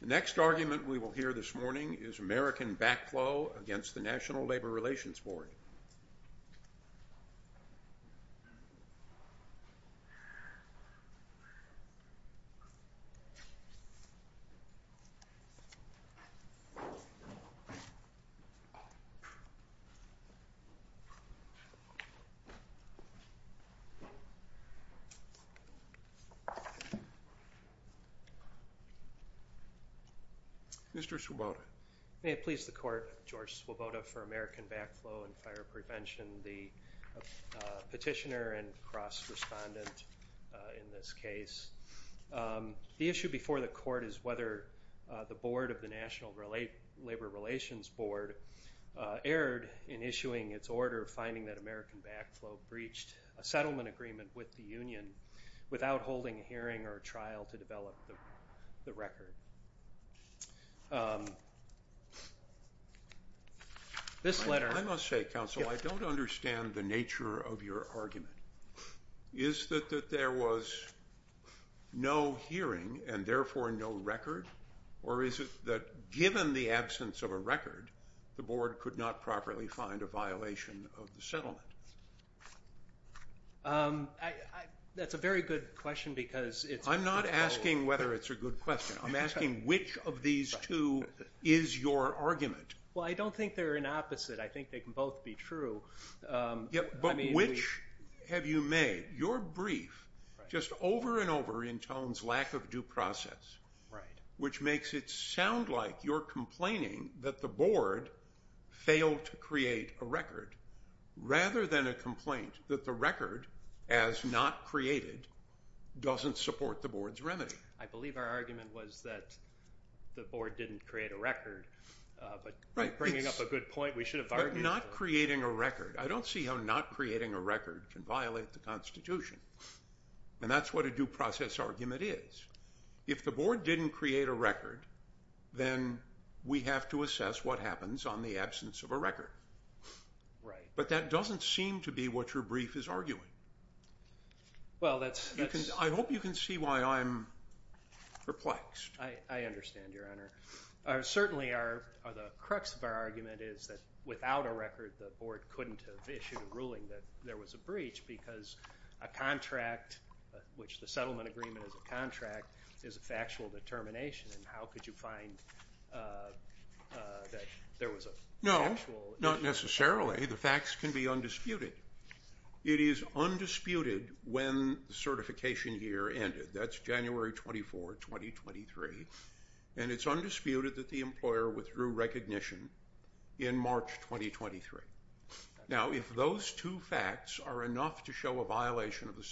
The next argument we will hear this morning is American Backflow against the National Labor Relations Board errored in issuing its order finding that American Backflow breached a settlement agreement with the union without holding a hearing or a trial to develop the record. I must say, counsel, I don't understand the nature of your argument. Is it that there was no hearing and therefore no record, or is it that given the absence of a record, the board could not properly find a violation of the settlement? That's a very good question I'm not asking whether it's a good question. I'm asking which of these two is your argument. Well, I don't think they're an opposite. I think they can both be true. But which have you made? Your brief just over and over intones lack of due process, which makes it sound like you're complaining that the board failed to create a record, rather than a complaint that the record, as not created, doesn't support the board's remedy. I believe our argument was that the board didn't create a record, but you're bringing up a good point. We should have argued for that. Right, but not creating a record. I don't see how not creating a record can violate the Constitution, and that's what a due process argument is. If the board didn't create a record, then we have to assess what happens on the absence of a record. Right. But that doesn't seem to be what your brief is arguing. Well, that's... I hope you can see why I'm perplexed. I understand, Your Honor. Certainly, the crux of our argument is that without a record, the board couldn't have issued a ruling that there was a breach, because a contract, which the settlement agreement is a contract, is a factual determination, and how could you find that there was a... No, not necessarily. The facts can be undisputed. It is undisputed when the certification year ended. That's January 24, 2023, and it's undisputed that the employer withdrew recognition in March 2023. Now, if those two facts are enough to show a violation of the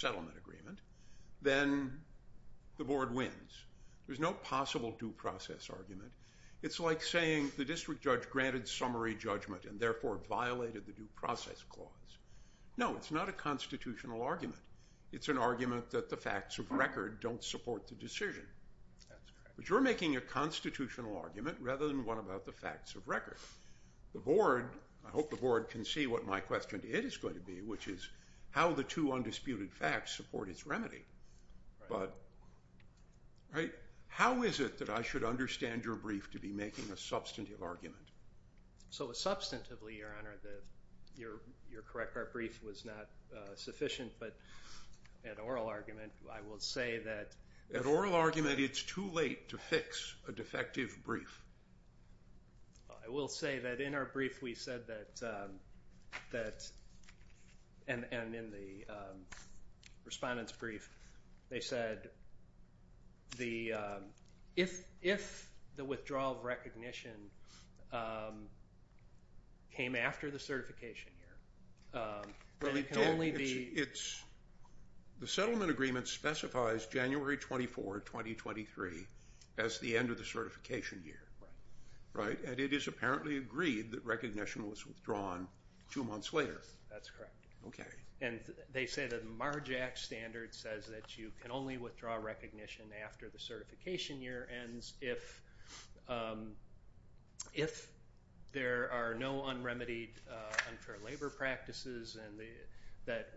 It's like saying the district judge granted summary judgment and therefore violated the due process clause. No, it's not a constitutional argument. It's an argument that the facts of record don't support the decision. That's correct. But you're making a constitutional argument rather than one about the facts of record. The board... I hope the board can see what my question is going to be, which is how the two undisputed facts support its remedy. How is it that I should understand your brief to be making a substantive argument? Substantively, Your Honor, your correct our brief was not sufficient, but at oral argument, I will say that... At oral argument, it's too late to fix a defective brief. I will say that in our brief, we said that, and in the respondent's brief, they said the... If the withdrawal of recognition came after the certification year, then it can only be... The settlement agreement specifies January 24, 2023 as the end of the certification year. Right? And it is apparently agreed that recognition was withdrawn two months later. That's correct. And they say that the MARJAC standard says that you can only withdraw recognition after the certification year ends, if there are no un-remedied unfair labor practices that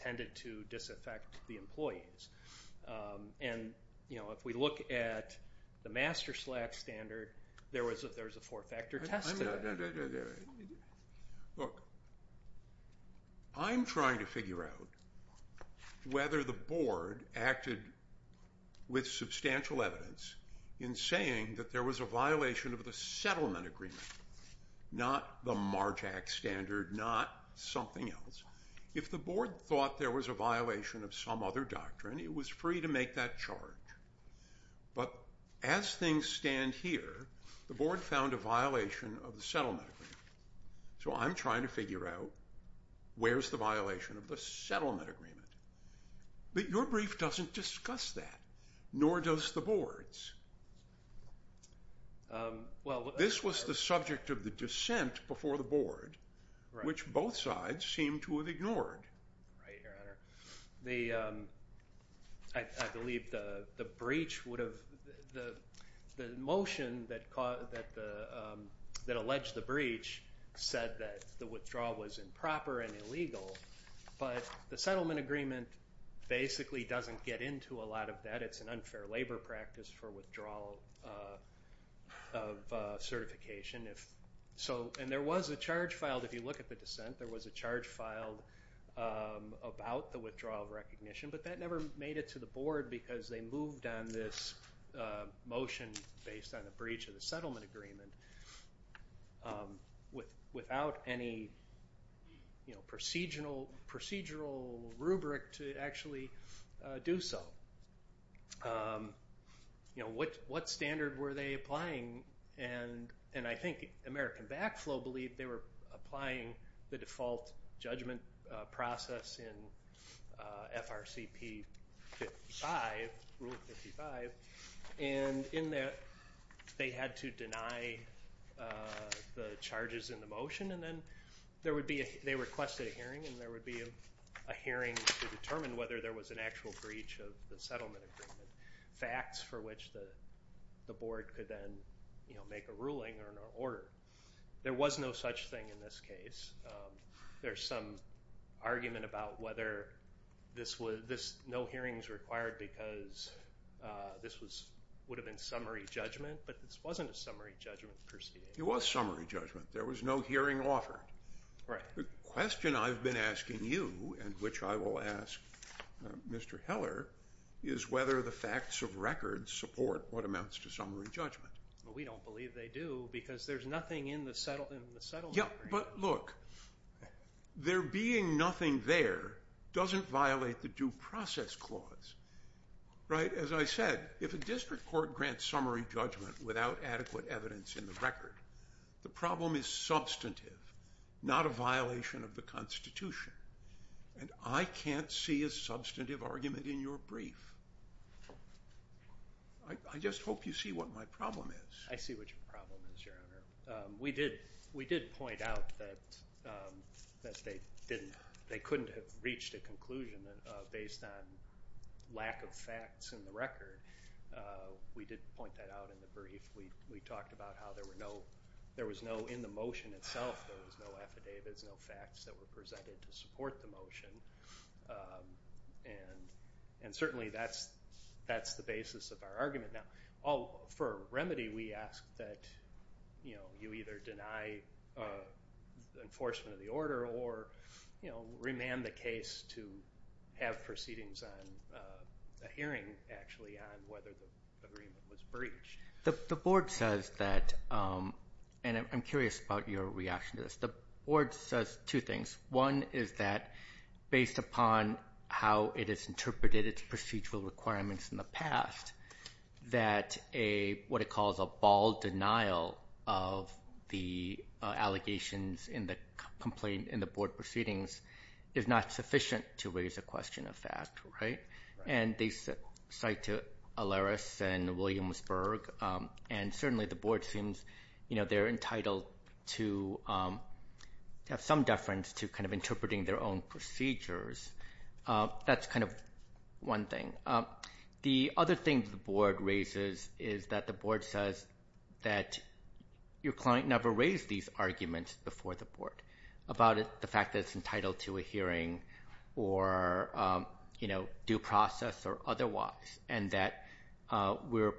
tended to disaffect the employees. And, you know, if we look at the Master Slack standard, there was a four-factor test there. Look, I'm trying to figure out whether the board acted with substantial evidence in saying that there was a violation of the settlement agreement, not the MARJAC standard, not something else. If the board thought there was a violation of some other doctrine, it was free to make that charge. But as things stand here, the board found a violation of the settlement agreement. So I'm trying to figure out where's the violation of the settlement agreement. But your brief doesn't discuss that, nor does the board's. This was the subject of the dissent before the board, which both sides seem to have ignored. Right, Your Honor. I believe the breach would have... The motion that alleged the breach said that the withdrawal was improper and illegal, but the settlement agreement basically doesn't get into a lot of that. It's an unfair labor practice for withdrawal of certification. And there was a charge filed, if you look at the dissent, there was a charge filed about the withdrawal of recognition, but that never made it to the board because they moved on this motion based on the breach of the settlement agreement without any procedural rubric to actually do so. What standard were they applying? And I think American Backflow believed they were applying the default judgment process in FRCP 55, Rule 55, and in that they had to deny the charges in the motion. They requested a hearing, and there would be a hearing to determine whether there was an actual breach of the settlement agreement, facts for which the board could then make a ruling or an order. There was no such thing in this case. There's some argument about whether no hearing is required because this would have been summary judgment, but this wasn't a summary judgment. It was summary judgment. There was no hearing offered. The question I've been asking you, and which I will ask Mr. Heller, is whether the facts of record support what amounts to summary judgment. Well, we don't believe they do because there's nothing in the settlement agreement. Yeah, but look, there being nothing there doesn't violate the due process clause, right? As I said, if a district court grants summary judgment without adequate evidence in the record, the problem is substantive, not a violation of the Constitution, and I can't see a substantive argument in your brief. I just hope you see what my problem is. I see what your problem is, Your Honor. We did point out that they couldn't have reached a conclusion based on lack of facts in the record. We did point that out in the brief. We talked about how there was no, in the motion itself, there was no affidavits, no facts that were presented to support the motion, and certainly that's the basis of our argument. Now, for a remedy, we ask that you either deny enforcement of the order or remand the case to have proceedings on a hearing, actually, on whether the agreement was breached. The Board says that, and I'm curious about your reaction to this, the Board says two things. One is that, based upon how it has interpreted its procedural requirements in the past, that what it calls a bald denial of the allegations in the Board proceedings is not sufficient to raise a question of fact, right? And they cite Alaris and Williamsburg, and certainly the Board seems, you know, they're entitled to have some deference to kind of interpreting their own procedures. That's kind of one thing. The other thing the Board raises is that the Board says that your client never raised these arguments before the Board about the fact that it's entitled to a hearing or, you know, due process or otherwise, and that we're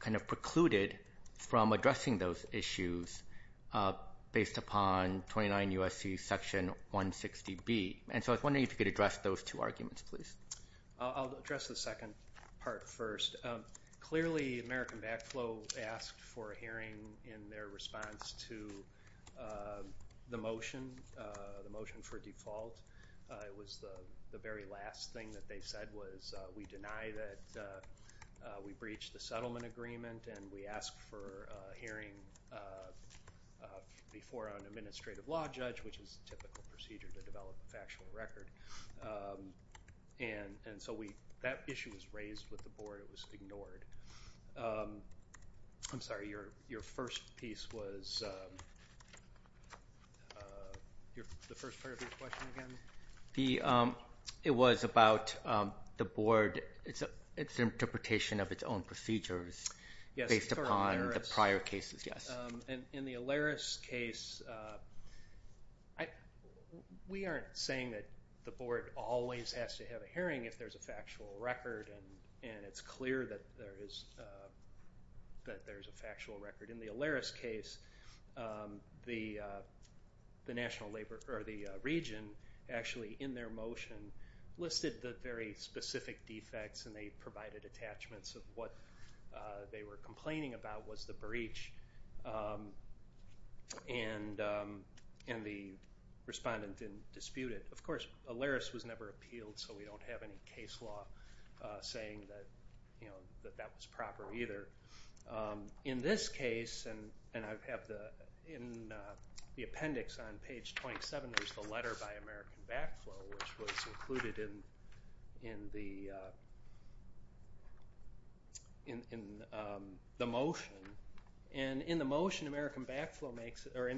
kind of precluded from addressing those issues based upon 29 U.S.C. Section 160B. And so I was wondering if you could address those two arguments, please. I'll address the second part first. Clearly, American Backflow asked for a hearing in their response to the motion, the motion for default. It was the very last thing that they said was we deny that we breached the settlement agreement and we ask for a hearing before an administrative law judge, which is a typical procedure to develop a factual record. And so that issue was raised with the Board. It was ignored. I'm sorry, your first piece was the first part of your question again? It was about the Board, its interpretation of its own procedures based upon the prior cases, yes. In the Alaris case, we aren't saying that the Board always has to have a hearing if there's a factual record, and it's clear that there is a factual record. In the Alaris case, the region actually in their motion listed the very specific defects and they provided attachments of what they were complaining about was the breach, and the respondent didn't dispute it. Of course, Alaris was never appealed, so we don't have any case law saying that that was proper either. In this case, and I have the appendix on page 27, there's the letter by American Backflow, which was included in the motion. And in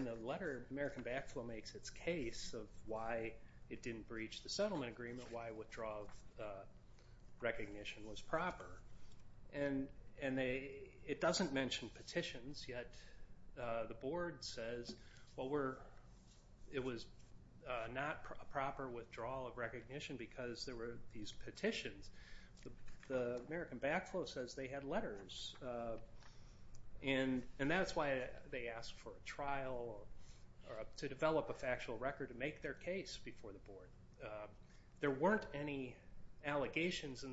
the letter, American Backflow makes its case of why it didn't breach the settlement agreement, why withdrawal of recognition was proper. And it doesn't mention petitions, yet the Board says, well, it was not a proper withdrawal of recognition because there were these petitions. The American Backflow says they had letters, and that's why they asked for a trial or to develop a factual record to make their case before the Board. There weren't any allegations in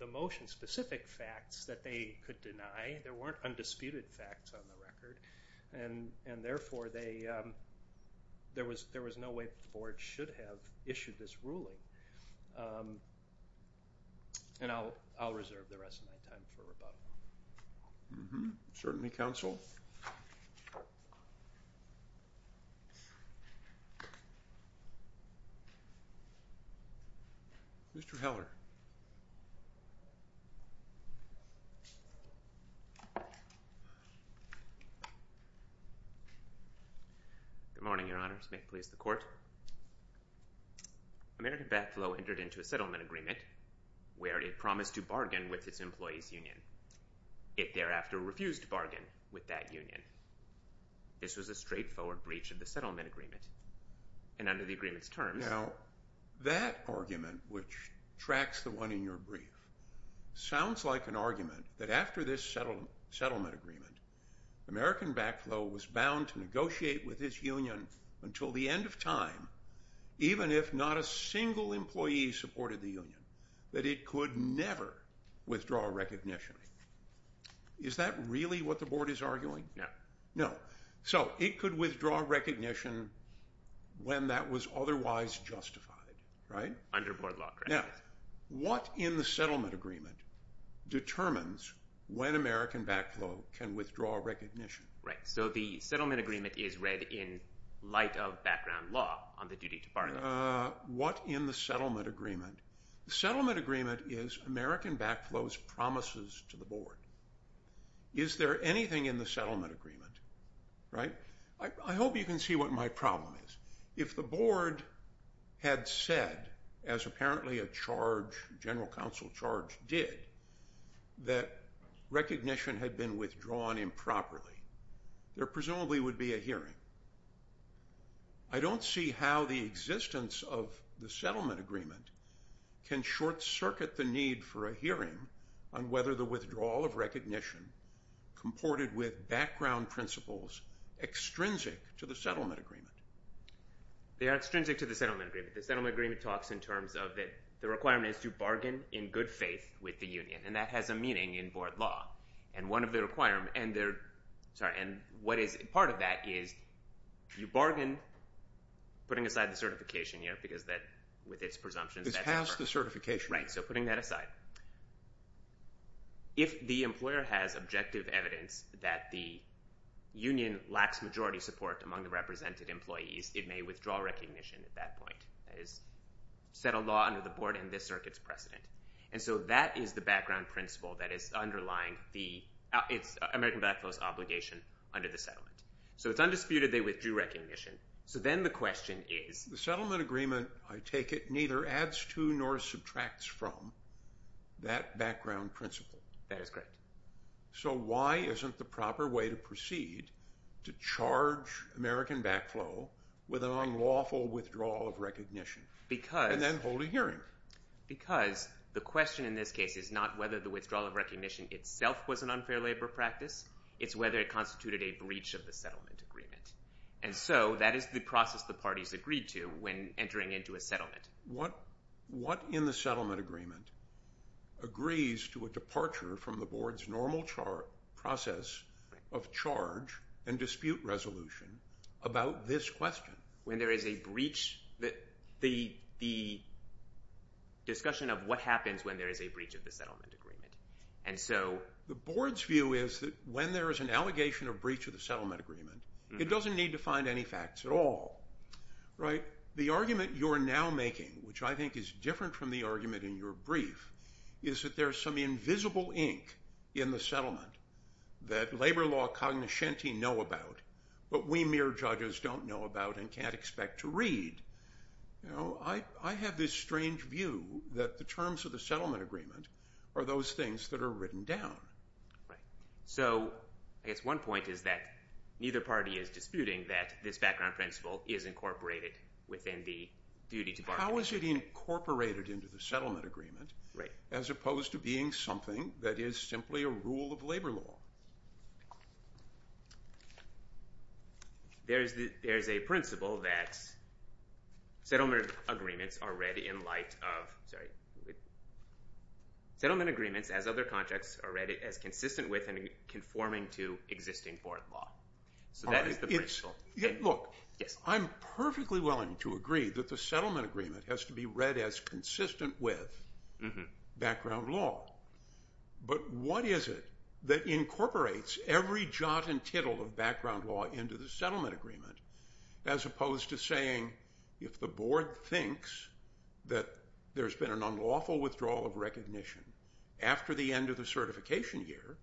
the motion, specific facts that they could deny. There weren't undisputed facts on the record, and therefore there was no way that the Board should have issued this ruling. And I'll reserve the rest of my time for rebuttal. Certainly, counsel. Mr. Heller. Good morning, Your Honors. May it please the Court. American Backflow entered into a settlement agreement where it promised to bargain with its employees' union. It thereafter refused to bargain with that union. This was a straightforward breach of the settlement agreement, and under the agreement's terms— Now, that argument, which tracks the one in your brief, sounds like an argument that after this settlement agreement, American Backflow was bound to negotiate with its union until the end of time, even if not a single employee supported the union, that it could never withdraw recognition. Is that really what the Board is arguing? No. No. So, it could withdraw recognition when that was otherwise justified, right? Under Board law, correct. Now, what in the settlement agreement determines when American Backflow can withdraw recognition? Right. So, the settlement agreement is read in light of background law on the duty to bargain. What in the settlement agreement? The settlement agreement is American Backflow's promises to the Board. Is there anything in the settlement agreement, right? I hope you can see what my problem is. If the Board had said, as apparently a charge, a general counsel charge did, that recognition had been withdrawn improperly, there presumably would be a hearing. I don't see how the existence of the settlement agreement can short-circuit the need for a hearing on whether the withdrawal of recognition comported with background principles extrinsic to the settlement agreement. They are extrinsic to the settlement agreement. The settlement agreement talks in terms of that the requirement is to bargain in good faith with the union, and that has a meaning in Board law, and part of that is you bargain, putting aside the certification, because with its presumptions that's a burden. It's past the certification. Right, so putting that aside. If the employer has objective evidence that the union lacks majority support among the represented employees, it may withdraw recognition at that point. That is settled law under the Board and this circuit's precedent. And so that is the background principle that is underlying the American Backflow's obligation under the settlement. So it's undisputed they withdrew recognition. So then the question is… The settlement agreement, I take it, neither adds to nor subtracts from that background principle. That is correct. So why isn't the proper way to proceed to charge American Backflow with an unlawful withdrawal of recognition and then hold a hearing? Because the question in this case is not whether the withdrawal of recognition itself was an unfair labor practice. It's whether it constituted a breach of the settlement agreement. And so that is the process the parties agreed to when entering into a settlement. What in the settlement agreement agrees to a departure from the Board's normal process of charge and dispute resolution about this question? When there is a breach, the discussion of what happens when there is a breach of the settlement agreement. The Board's view is that when there is an allegation of breach of the settlement agreement, it doesn't need to find any facts at all. The argument you are now making, which I think is different from the argument in your brief, is that there is some invisible ink in the settlement that labor law cognoscente know about but we mere judges don't know about and can't expect to read. I have this strange view that the terms of the settlement agreement are those things that are written down. So I guess one point is that neither party is disputing that this background principle is incorporated within the duty to bargain. How is it incorporated into the settlement agreement as opposed to being something that is simply a rule of labor law? There is a principle that settlement agreements as other contracts are read as consistent with and conforming to existing foreign law. Look, I'm perfectly willing to agree that the settlement agreement has to be read as consistent with background law. But what is it that incorporates every jot and tittle of background law into the settlement agreement as opposed to saying if the Board thinks that there's been an unlawful withdrawal of recognition after the end of the certification year,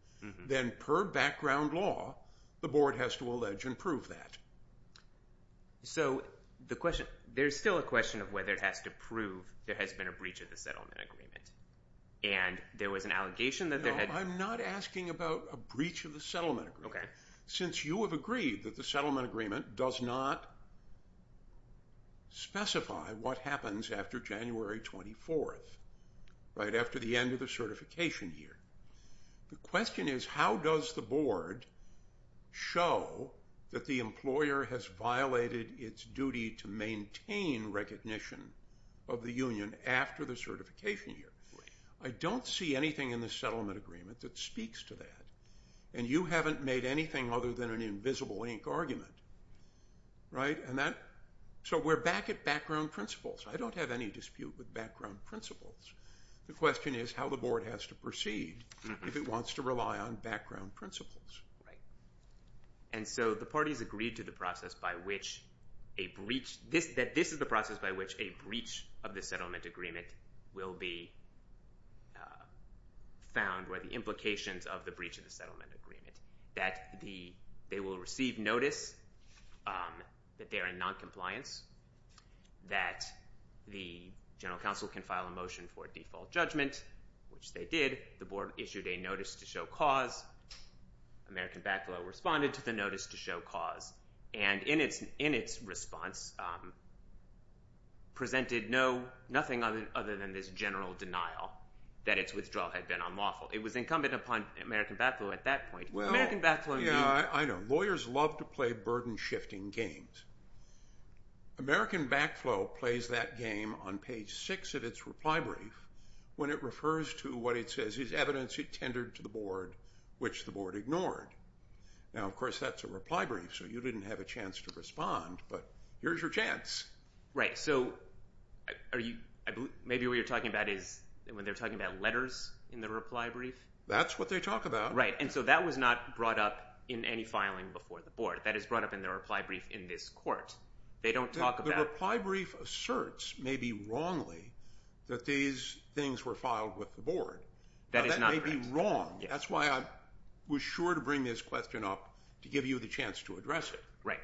then per background law, the Board has to allege and prove that. So there's still a question of whether it has to prove there has been a breach of the settlement agreement. And there was an allegation that there had... No, I'm not asking about a breach of the settlement agreement. Okay. Since you have agreed that the settlement agreement does not specify what happens after January 24th, right after the end of the certification year. The question is how does the Board show that the employer has violated its duty to maintain recognition of the union after the certification year? I don't see anything in the settlement agreement that speaks to that. And you haven't made anything other than an invisible ink argument. Right? So we're back at background principles. I don't have any dispute with background principles. The question is how the Board has to proceed if it wants to rely on background principles. Right. And so the parties agreed to the process by which a breach... that this is the process by which a breach of the settlement agreement will be found, or the implications of the breach of the settlement agreement, that they will receive notice that they are in noncompliance, that the General Counsel can file a motion for default judgment, which they did. The Board issued a notice to show cause. American Backflow responded to the notice to show cause, and in its response presented nothing other than this general denial that its withdrawal had been unlawful. It was incumbent upon American Backflow at that point. Well, yeah, I know. Lawyers love to play burden-shifting games. American Backflow plays that game on page 6 of its reply brief when it refers to what it says is evidence it tendered to the Board, which the Board ignored. Now, of course, that's a reply brief, so you didn't have a chance to respond, but here's your chance. Right. So maybe what you're talking about is when they're talking about letters in the reply brief? That's what they talk about. Right, and so that was not brought up in any filing before the Board. That is brought up in the reply brief in this court. They don't talk about... Their reply brief asserts, maybe wrongly, that these things were filed with the Board. That is not correct. That may be wrong. That's why I was sure to bring this question up to give you the chance to address it. Right.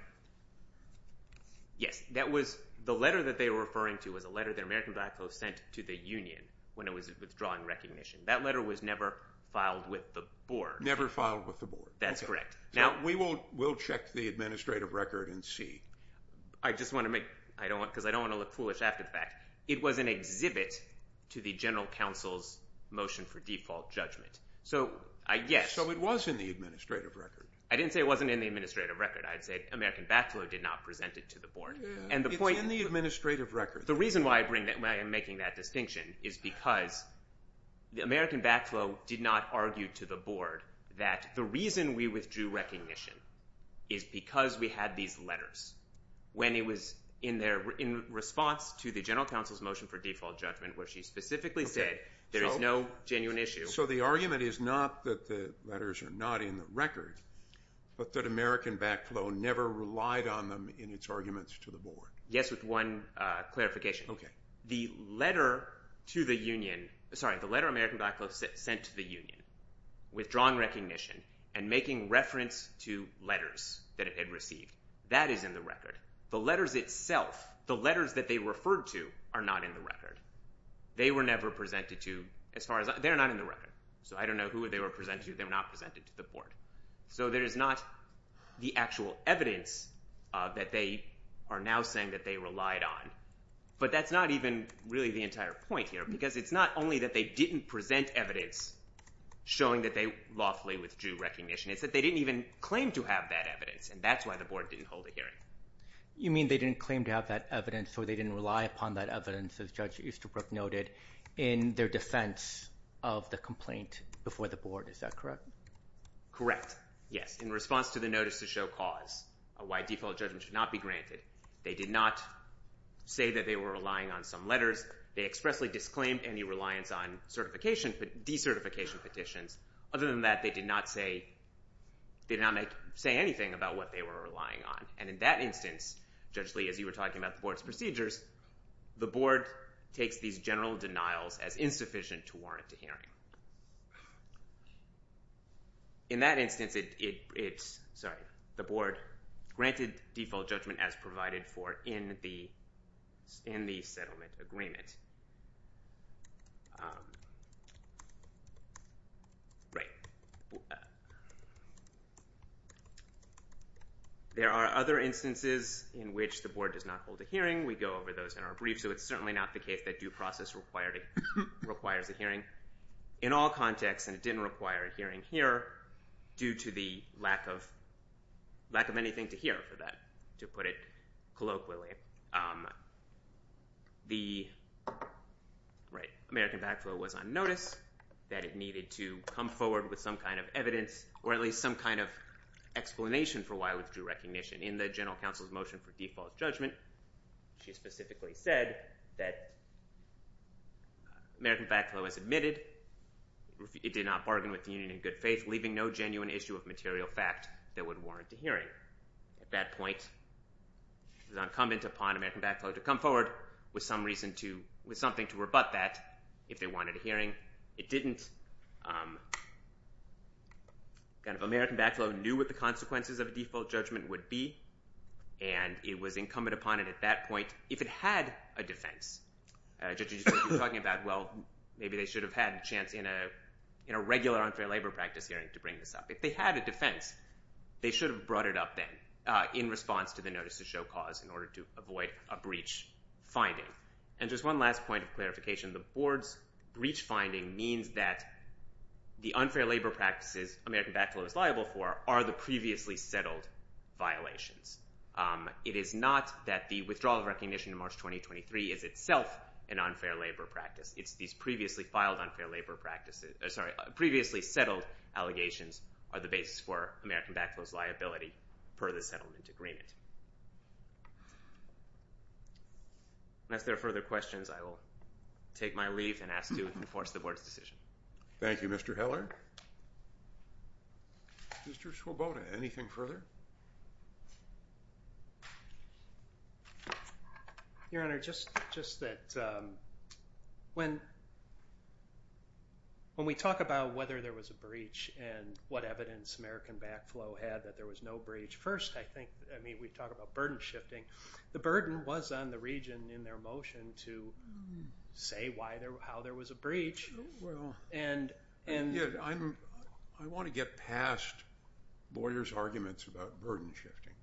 Yes, that was the letter that they were referring to was a letter that American Backflow sent to the union when it was withdrawing recognition. That letter was never filed with the Board. Never filed with the Board. That's correct. Now... We'll check the administrative record and see. I just want to make... Because I don't want to look foolish after the fact. It was an exhibit to the General Counsel's motion for default judgment. So, yes. So it was in the administrative record. I didn't say it wasn't in the administrative record. I said American Backflow did not present it to the Board. It's in the administrative record. The reason why I am making that distinction is because American Backflow did not argue to the Board that the reason we withdrew recognition is because we had these letters when it was in response to the General Counsel's motion for default judgment where she specifically said there is no genuine issue. So the argument is not that the letters are not in the record, but that American Backflow never relied on them in its arguments to the Board. Yes, with one clarification. Okay. The letter to the Union... Sorry. The letter American Backflow sent to the Union withdrawing recognition and making reference to letters that it had received, that is in the record. The letters itself, the letters that they referred to, are not in the record. They were never presented to... They're not in the record. So I don't know who they were presented to. They were not presented to the Board. So there is not the actual evidence that they are now saying that they relied on. But that's not even really the entire point here because it's not only that they didn't present evidence showing that they lawfully withdrew recognition. It's that they didn't even claim to have that evidence, and that's why the Board didn't hold a hearing. You mean they didn't claim to have that evidence or they didn't rely upon that evidence, as Judge Easterbrook noted, in their defense of the complaint before the Board. Is that correct? Correct, yes. In response to the notice to show cause, a wide default judgment should not be granted. They did not say that they were relying on some letters. They expressly disclaimed any reliance on decertification petitions. Other than that, they did not say anything about what they were relying on. And in that instance, Judge Lee, as you were talking about the Board's procedures, the Board takes these general denials as insufficient to warrant a hearing. In that instance, it's... provided for in the settlement agreement. There are other instances in which the Board does not hold a hearing. We go over those in our brief, so it's certainly not the case that due process requires a hearing. In all contexts, and it didn't require a hearing here, due to the lack of anything to hear for that, to put it colloquially, the American Backflow was on notice that it needed to come forward with some kind of evidence or at least some kind of explanation for why it withdrew recognition. In the General Counsel's motion for default judgment, she specifically said that American Backflow has admitted it did not bargain with the union in good faith, leaving no genuine issue of material fact that would warrant a hearing. At that point, it was incumbent upon American Backflow to come forward with some reason to... with something to rebut that if they wanted a hearing. It didn't. The American Backflow knew what the consequences of a default judgment would be, and it was incumbent upon it at that point, if it had a defense. Judge, you were talking about, well, maybe they should have had a chance in a regular unfair labor practice hearing to bring this up. If they had a defense, they should have brought it up then in response to the notice of show cause in order to avoid a breach finding. And just one last point of clarification. The board's breach finding means that the unfair labor practices American Backflow is liable for are the previously settled violations. It is not that the withdrawal of recognition in March 2023 is itself an unfair labor practice. It's these previously filed unfair labor practices... sorry, previously settled allegations are the basis for American Backflow's liability per the settlement agreement. Unless there are further questions, I will take my leave and ask to enforce the board's decision. Thank you, Mr. Heller. Mr. Swoboda, anything further? Your Honor, just that... when... when we talk about whether there was a breach and what evidence American Backflow had that there was no breach, first, I think, I mean, we talk about burden shifting. The burden was on the region in their motion to say how there was a breach. And... I want to get past lawyers' arguments about burden shifting.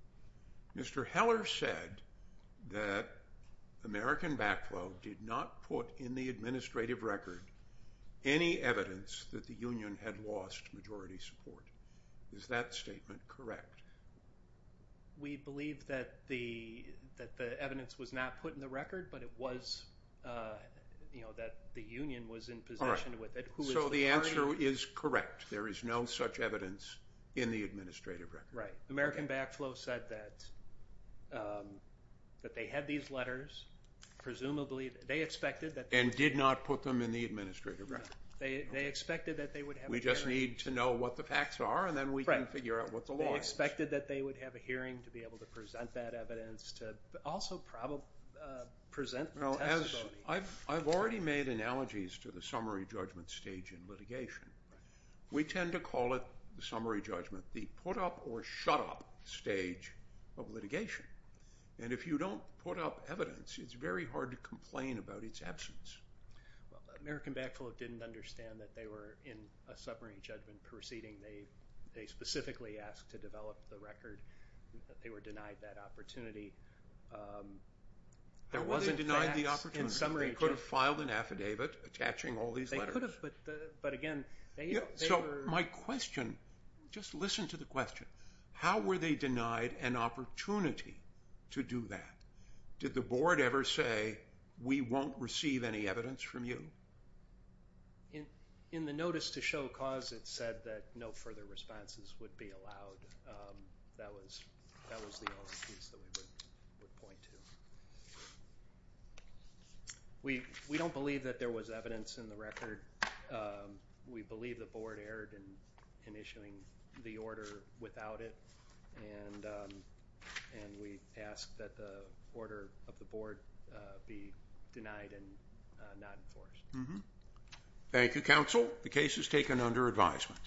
Mr. Heller said that American Backflow did not put in the administrative record any evidence that the union had lost majority support. Is that statement correct? We believe that the... that the evidence was not put in the record, but it was... you know, that the union was in possession of it. So the answer is correct. There is no such evidence in the administrative record. Right. American Backflow said that... that they had these letters. Presumably, they expected that... And did not put them in the administrative record. They expected that they would have... We just need to know what the facts are, and then we can figure out what the law is. They expected that they would have a hearing to be able to present that evidence, to also present testimony. I've already made analogies to the summary judgment stage in litigation. We tend to call it, the summary judgment, the put-up or shut-up stage of litigation. And if you don't put up evidence, it's very hard to complain about its absence. Well, American Backflow didn't understand that they were in a summary judgment proceeding. They specifically asked to develop the record. They were denied that opportunity. There wasn't facts in summary judgment. They could have filed an affidavit attaching all these letters. They could have, but again, they were... My question, just listen to the question. How were they denied an opportunity to do that? Did the board ever say, we won't receive any evidence from you? In the notice to show cause, it said that no further responses would be allowed. That was the only piece that we would point to. We don't believe that there was evidence in the record. We believe the board erred in issuing the order without it, and we ask that the order of the board be denied and not enforced. Thank you, counsel. The case is taken under advisement.